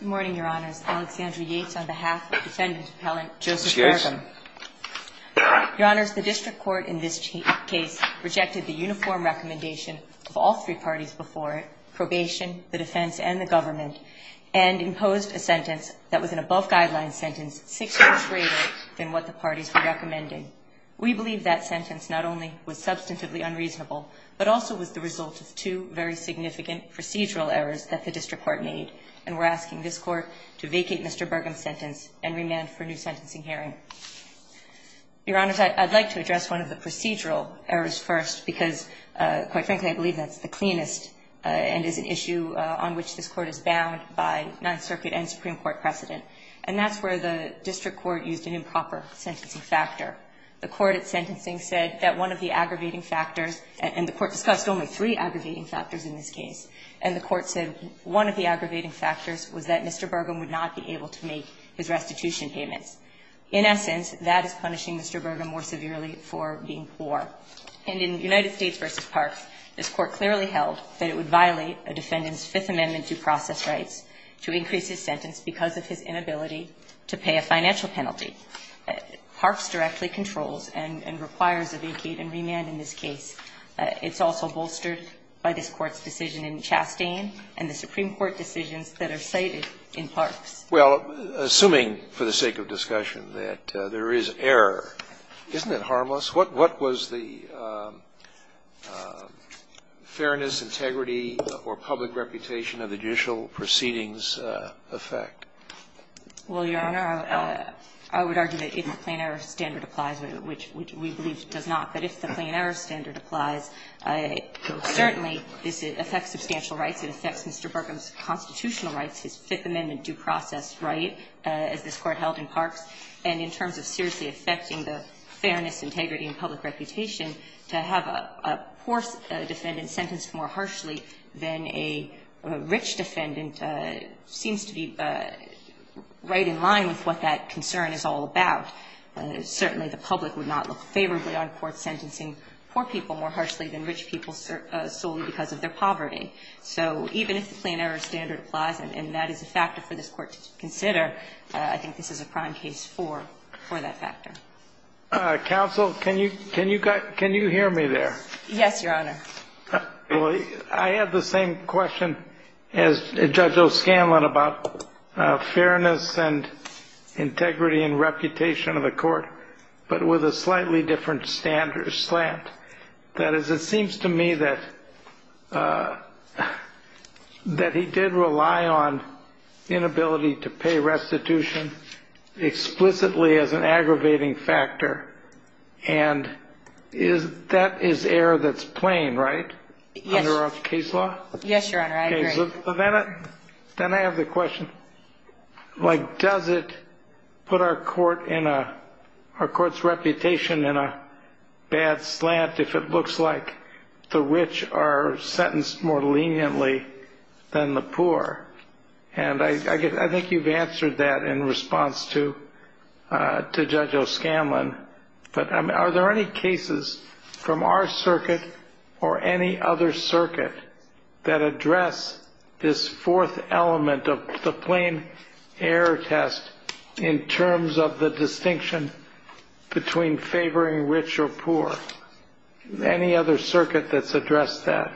Your Honor, the district court in this case rejected the uniform recommendation of all three parties before it, probation, the defense, and the government, and imposed a sentence that was an above-guideline sentence six years later than what the parties were recommending. We believe that sentence not only was substantively unreasonable, but also was the result of two very significant procedural errors that the district court made, and we're asking this Court to vacate Mr. Burgum's sentence and remand for new sentencing hearing. Your Honors, I'd like to address one of the procedural errors first, because, quite frankly, I believe that's the cleanest and is an issue on which this Court is bound by Ninth Circuit and supreme court precedent, and that's where the district court used an improper sentencing factor. The court at sentencing said that one of the aggravating factors, and the court discussed only three aggravating factors in this case, and the court said one of the aggravating factors was that Mr. Burgum would not be able to make his restitution payments. In essence, that is punishing Mr. Burgum more severely for being poor. And in United States v. Parks, this Court clearly held that it would violate a defendant's Fifth Amendment due process rights to increase his sentence because of his inability to pay a financial penalty. Parks directly controls and requires a vacate and remand in this case. It's also bolstered by this Court's decision in Chastain and the supreme court decisions that are cited in Parks. Well, assuming for the sake of discussion that there is error, isn't it harmless? What was the fairness, integrity, or public reputation of the judicial proceedings' effect? Well, Your Honor, I would argue that if the plain error standard applies, which we believe it does not, but if the plain error standard applies, certainly this affects substantial rights. It affects Mr. Burgum's constitutional rights, his Fifth Amendment due process right, as this Court held in Parks. And in terms of seriously affecting the fairness, integrity, and public reputation, to have a poor defendant sentenced more harshly than a rich defendant seems to be right in line with what that concern is all about. Certainly, the public would not look favorably on courts sentencing poor people more harshly because of their poverty. So even if the plain error standard applies, and that is a factor for this Court to consider, I think this is a prime case for that factor. Counsel, can you hear me there? Yes, Your Honor. I have the same question as Judge O'Scanlan about fairness and integrity and reputation of the court, but with a slightly different standard slant. That is, it seems to me that he did rely on inability to pay restitution explicitly as an aggravating factor, and that is error that's plain, right, under our case law? Yes, Your Honor. I agree. Then I have the question, does it put our court's reputation in a bad slant if it looks like the rich are sentenced more leniently than the poor? And I think you've answered that in response to Judge O'Scanlan, but are there any cases from our circuit or any other circuit that address this fourth element of the plain error test in terms of the distinction between favoring rich or poor? Any other circuit that's addressed that?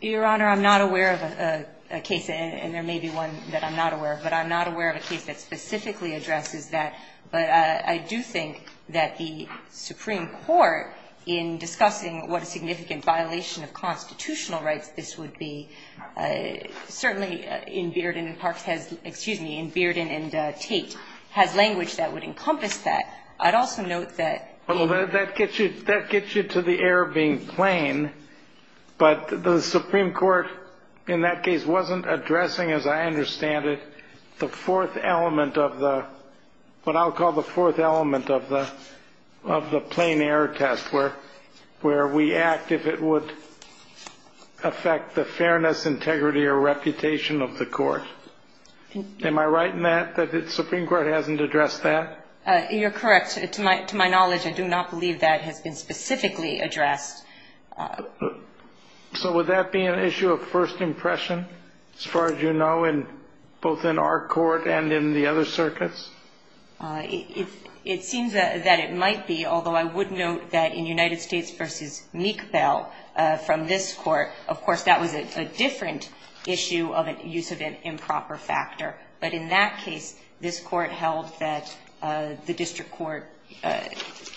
Your Honor, I'm not aware of a case, and there may be one that I'm not aware of, but I'm not aware of a case that specifically addresses that. But I do think that the Supreme Court, in discussing what a significant violation of constitutional rights this would be, certainly in Bearden and Parkes has – excuse me, in Bearden and Tate has language that would encompass that. I'd also note that in the case of the rich and the poor, the Supreme Court, in that case, wasn't addressing, as I understand it, the fourth element of the – what I'll correct, to my knowledge, I do not believe that has been specifically addressed. So would that be an issue of first impression, as far as you know, both in our court and in the other circuits? It seems that it might be, although I would note that in United States v. Meek Bell, from this Court, of course, that was a different issue of use of an improper factor. But in that case, this Court held that the district court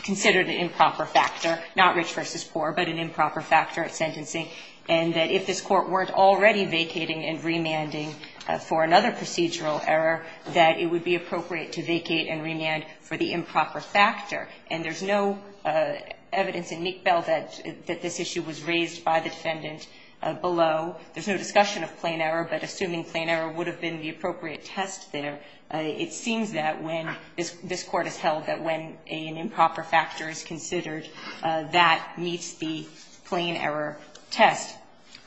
considered an improper factor, not rich v. poor, but an improper factor at sentencing, and that if this Court weren't already vacating and remanding for another procedural error, that it would be appropriate to vacate and remand for the improper factor. And there's no evidence in Meek Bell that this issue was raised by the defendant below. There's no discussion of plain error, but assuming plain error would have been the appropriate test there, it seems that when – this Court has held that when an improper factor is considered, that meets the plain error test.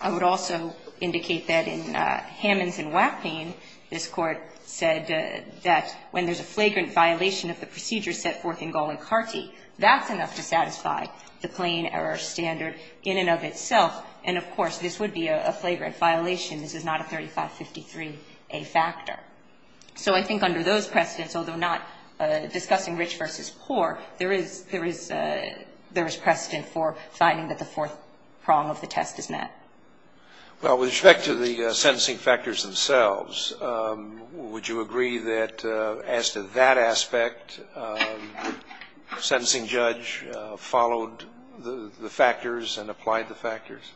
I would also indicate that in Hammons v. Wapnein, this Court said that when there's a flagrant violation of the procedure set forth in Gallencarti, that's enough to satisfy the plain error standard in and of itself. And, of course, this would be a flagrant violation. This is not a 3553A factor. So I think under those precedents, although not discussing rich v. poor, there is precedent for finding that the fourth prong of the test is met. Well, with respect to the sentencing factors themselves, would you agree that as to that aspect, the sentencing judge followed the factors and applied the factors?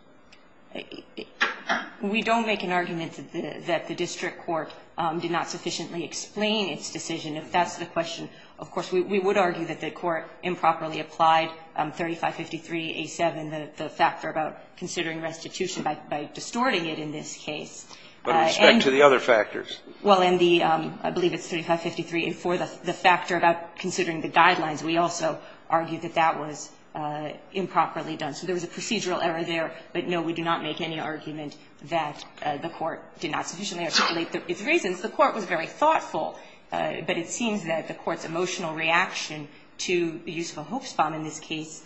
We don't make an argument that the district court did not sufficiently explain its decision. If that's the question, of course, we would argue that the Court improperly applied 3553A7, the factor about considering restitution, by distorting it in this case. But with respect to the other factors? Well, in the – I believe it's 3553A4, the factor about considering the guidelines, we also argue that that was improperly done. So there was a procedural error there, but, no, we do not make any argument that the Court did not sufficiently articulate the reasons. The Court was very thoughtful, but it seems that the Court's emotional reaction to the use of a hoax bomb in this case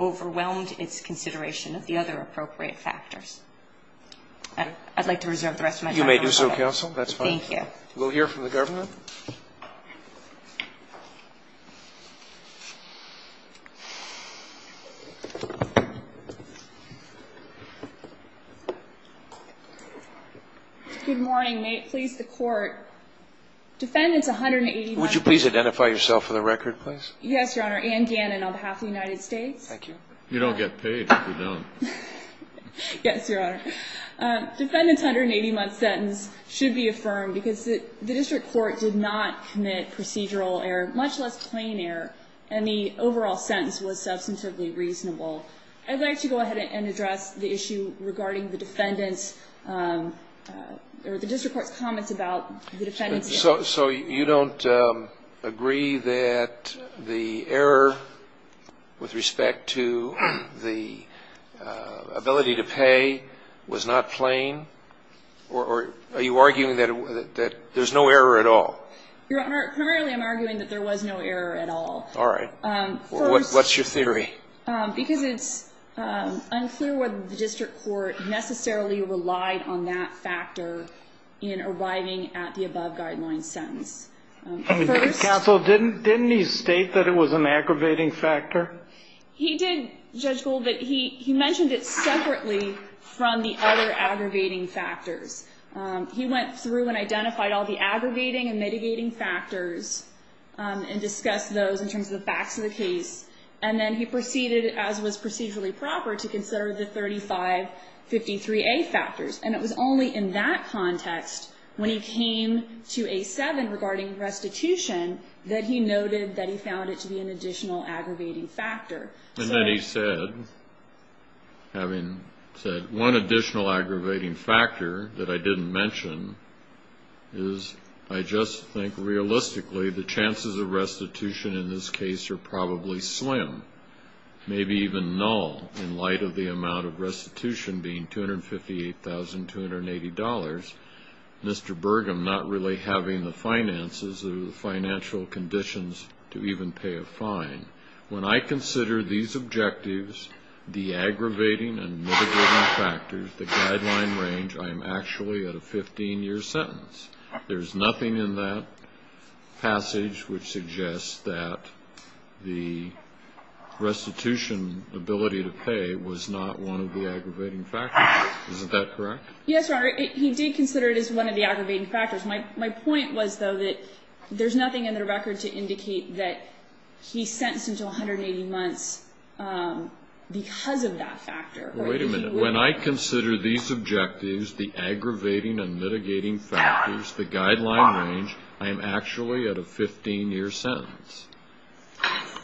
overwhelmed its consideration of the other appropriate factors. I'd like to reserve the rest of my time. You may do so, counsel. That's fine. Thank you. We'll hear from the government. Good morning. May it please the Court, Defendant's 180-month sentence. Would you please identify yourself for the record, please? Yes, Your Honor. Anne Gannon on behalf of the United States. Thank you. You don't get paid if you don't. Yes, Your Honor. Defendant's 180-month sentence should be affirmed because the district court did not commit procedural error, much less plain error, and the overall sentence was substantively reasonable. I'd like to go ahead and address the issue regarding the defendant's – or the district court's comments about the defendant's sentence. So you don't agree that the error with respect to the ability to pay was not plain? Or are you arguing that there's no error at all? Your Honor, primarily I'm arguing that there was no error at all. All right. What's your theory? Because it's unclear whether the district court necessarily relied on that factor in arriving at the above-guideline sentence. First – Counsel, didn't he state that it was an aggravating factor? He did, Judge Gould, but he mentioned it separately from the other aggravating factors. He went through and identified all the aggravating and mitigating factors and discussed those in terms of the facts of the case, and then he proceeded, as was procedurally proper, to consider the 3553A factors. And it was only in that context, when he came to A7 regarding restitution, that he noted that he found it to be an additional aggravating factor. And then he said, having said one additional aggravating factor that I didn't mention is, I just think, realistically, the chances of restitution in this case are probably slim, maybe even null, in light of the amount of restitution being $258,280, Mr. Burgum not really having the finances or the financial conditions to even pay a fine. When I consider these objectives, the aggravating and mitigating factors, the sentence, there's nothing in that passage which suggests that the restitution ability to pay was not one of the aggravating factors, is that correct? Yes, Your Honor, he did consider it as one of the aggravating factors. My point was, though, that there's nothing in the record to indicate that he's sentenced until 180 months because of that factor. Wait a minute. When I consider these objectives, the aggravating and mitigating factors, the guideline range, I am actually at a 15-year sentence.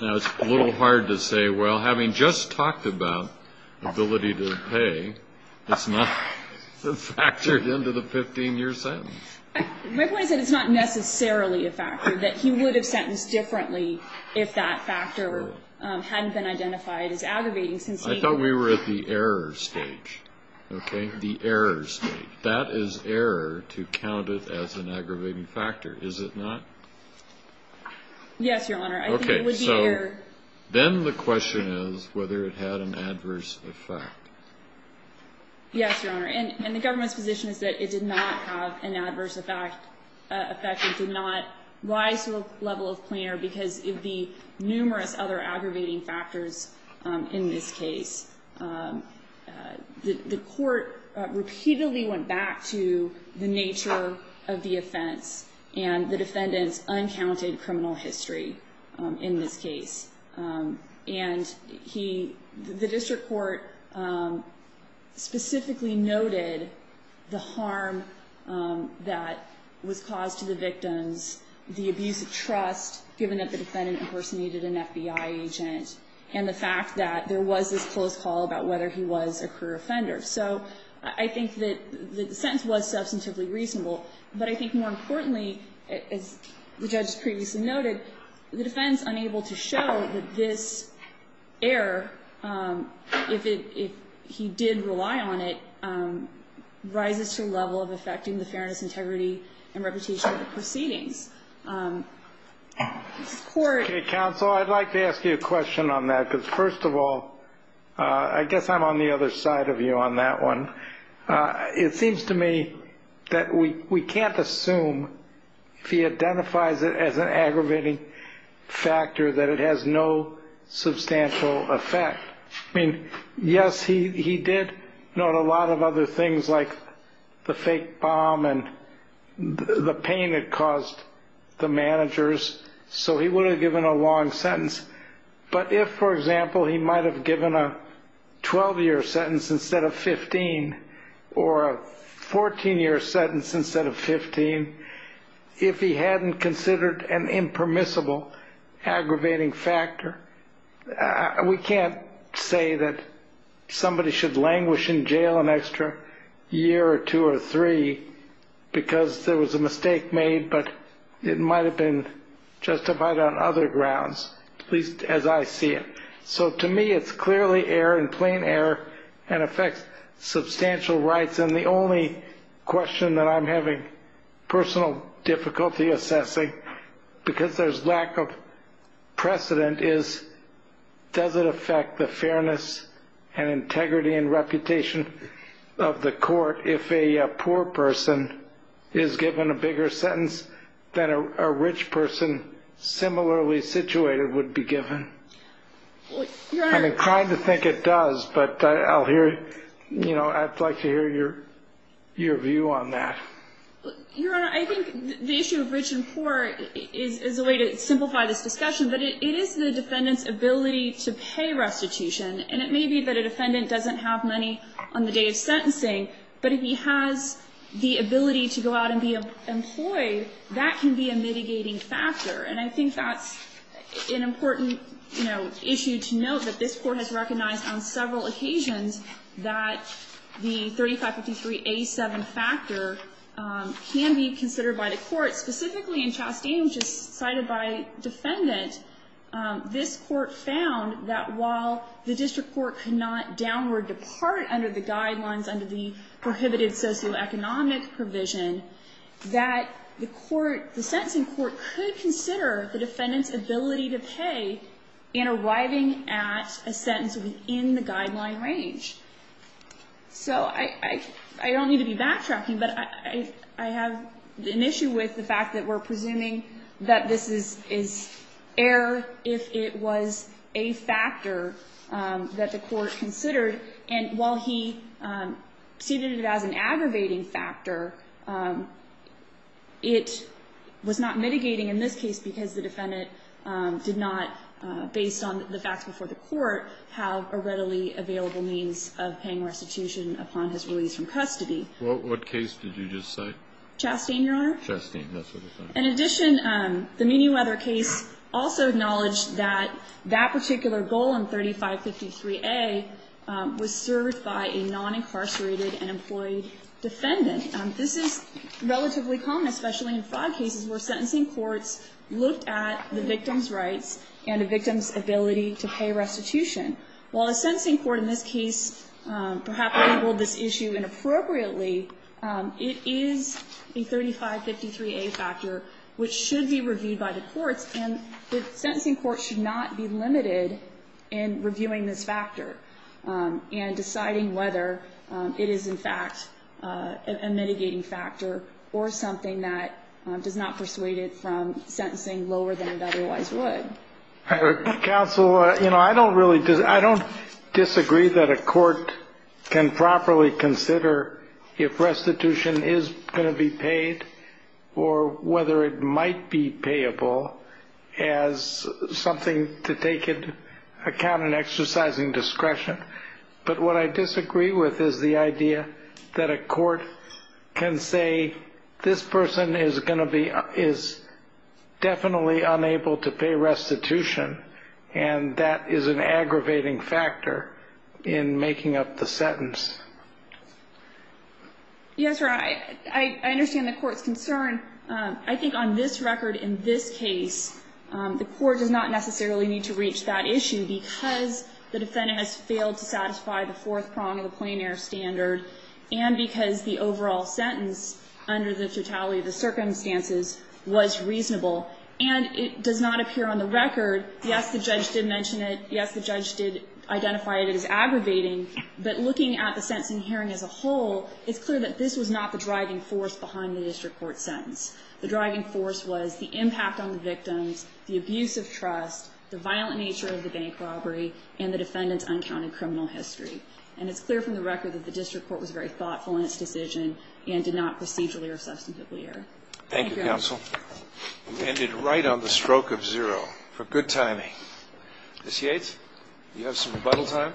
Now, it's a little hard to say, well, having just talked about ability to pay, it's not factored into the 15-year sentence. My point is that it's not necessarily a factor, that he would have sentenced differently if that factor hadn't been identified as aggravating since he thought we were at the error stage, okay, the error stage. That is error to count it as an aggravating factor, is it not? Yes, Your Honor, I think it would be error. Then the question is whether it had an adverse effect. Yes, Your Honor, and the government's position is that it did not have an adverse effect. It did not rise to a level of plain error because of the numerous other offenses. The court repeatedly went back to the nature of the offense, and the defendant's uncounted criminal history in this case. The district court specifically noted the harm that was caused to the victims, the abuse of trust given that the defendant impersonated an FBI agent, and the fact that there was this close call about whether he was a career offender. So I think that the sentence was substantively reasonable, but I think more importantly, as the judge previously noted, the defense unable to show that this error, if he did rely on it, rises to a level of affecting the fairness, integrity, and reputation of the proceedings. Okay, counsel, I'd like to ask you a question on that, because first of all, I guess I'm on the other side of you on that one. It seems to me that we can't assume, if he identifies it as an aggravating factor, that it has no substantial effect. I mean, yes, he did note a lot of other things like the fake bomb and the pain it caused the managers, so he would have given a long sentence. But if, for example, he might have given a 12-year sentence instead of 15, or a 14-year sentence instead of 15, if he hadn't considered an impermissible aggravating factor, we can't say that somebody should languish in jail an But it might have been justified on other grounds, at least as I see it. So to me, it's clearly error, and plain error, and affects substantial rights. And the only question that I'm having personal difficulty assessing, because there's lack of precedent, is does it affect the fairness and integrity and that a rich person, similarly situated, would be given? I'm inclined to think it does, but I'd like to hear your view on that. Your Honor, I think the issue of rich and poor is a way to simplify this discussion, but it is the defendant's ability to pay restitution. And it may be that a defendant doesn't have money on the day of sentencing, but if he has the ability to go out and be employed, that can be a mitigating factor. And I think that's an important issue to note, that this court has recognized on several occasions that the 3553A7 factor can be considered by the court. Specifically in Chastain, which is cited by defendant, this court found that while the district court could not downward depart under the guidelines, under the prohibited socioeconomic provision, that the court, the sentencing court could consider the defendant's ability to pay in arriving at a sentence within the guideline range. So I don't need to be backtracking, but I have an issue with the fact that we're presuming that this is error if it was a factor that the court considered. And while he ceded it as an aggravating factor, it was not mitigating in this case because the defendant did not, based on the facts before the court, have a readily available means of paying restitution upon his release from custody. Chastain, Your Honor. Chastain, that's what I thought. In addition, the Meanyweather case also acknowledged that that particular goal in 3553A was served by a non-incarcerated and employed defendant. This is relatively common, especially in fraud cases where sentencing courts looked at the victim's rights and the victim's ability to pay restitution. While the sentencing court in this case perhaps labeled this issue inappropriately, it is a 3553A factor which should be reviewed by the courts. And the sentencing court should not be limited in reviewing this factor and deciding whether it is, in fact, a mitigating factor or something that does not persuade it from sentencing lower than it otherwise would. Counsel, I don't disagree that a court can properly consider if restitution is going to be paid or whether it might be payable as something to take into account in exercising discretion. But what I disagree with is the idea that a court can say, this person is definitely unable to pay restitution, and that is an aggravating factor in making up the sentence. Yes, Your Honor, I understand the court's concern. I think on this record, in this case, the court does not necessarily need to reach that issue because the defendant has failed to satisfy the fourth prong of the plein air standard and because the overall sentence under the totality of the circumstances was reasonable. And it does not appear on the record, yes, the judge did mention it. Yes, the judge did identify it as aggravating. But looking at the sentencing hearing as a whole, it's clear that this was not the driving force behind the district court sentence. The driving force was the impact on the victims, the abuse of trust, the violent nature of the bank robbery, and the defendant's uncounted criminal history. And it's clear from the record that the district court was very thoughtful in its decision and did not procedurally or substantively err. Thank you, counsel. You ended right on the stroke of zero for good timing. Ms. Yates, you have some rebuttal time?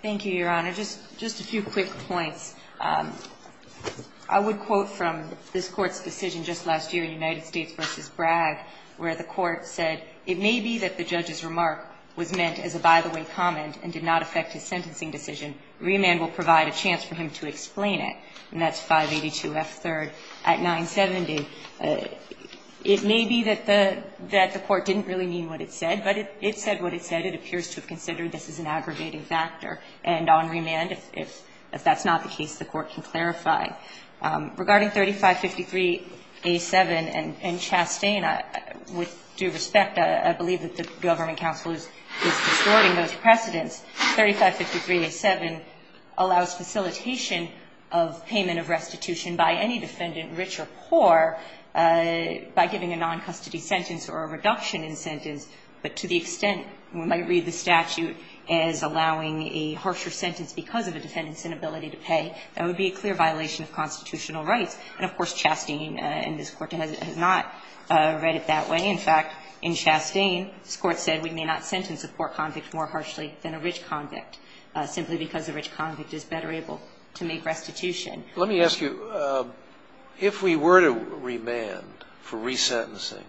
Thank you, Your Honor. Just a few quick points. I would quote from this court's decision just last year in United States versus Bragg, where the court said, it may be that the judge's remark was meant as a by the way comment and did not affect his sentencing decision. Reaman will provide a chance for him to explain it. And that's 582 F3rd at 970. It may be that the court didn't really mean what it said, but it said what it said. It appears to have considered this as an aggravating factor. And on remand, if that's not the case, the court can clarify. Regarding 3553 A7 and Chastain, with due respect, I believe that the government counsel is distorting those precedents. 3553 A7 allows facilitation of payment of restitution by any defendant, rich or poor, by giving a non-custody sentence or a reduction in sentence. But to the extent we might read the statute as allowing a harsher sentence because of a defendant's inability to pay, that would be a clear violation of constitutional rights. And of course, Chastain in this court has not read it that way. In fact, in Chastain, this court said we may not sentence a poor convict more harshly than a rich convict, simply because a rich convict is better able to make restitution. Let me ask you, if we were to remand for resentencing,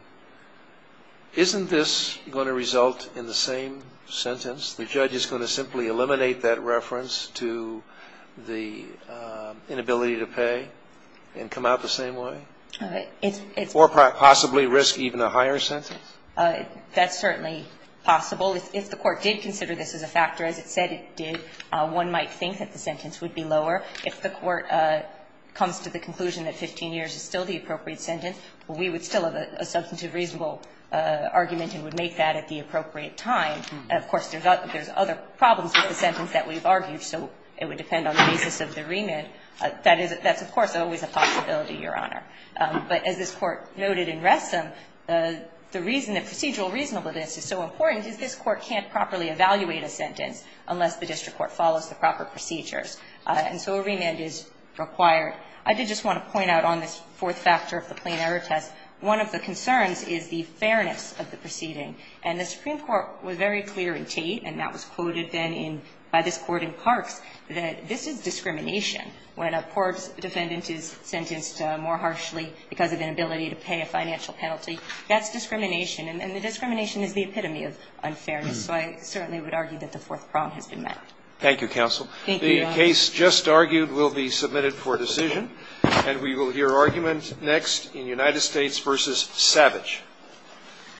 isn't this going to result in the same sentence? The judge is going to simply eliminate that reference to the inability to pay and come out the same way? Or possibly risk even a higher sentence? That's certainly possible. If the court did consider this as a factor, as it said it did, one might think that the sentence would be lower. If the court comes to the conclusion that 15 years is still the appropriate sentence, we would still have a substantive reasonable argument and would make that at the appropriate time. Of course, there's other problems with the sentence that we've argued, so it would depend on the basis of the remand. That's, of course, always a possibility, Your Honor. But as this Court noted in Wresem, the reason that procedural reasonableness is so important is this Court can't properly evaluate a sentence unless the district court follows the proper procedures, and so a remand is required. I did just want to point out on this fourth factor of the plain error test, one of the concerns is the fairness of the proceeding. And the Supreme Court was very clear in Tate, and that was quoted then in by this Court in Parks, that this is discrimination. When a court's defendant is sentenced more harshly because of inability to pay a financial penalty, that's discrimination, and the discrimination is the epitome of unfairness. So I certainly would argue that the fourth prong has been met. Thank you, counsel. Thank you, Your Honor. The case just argued will be submitted for decision, and we will hear argument next in United States v. Savage.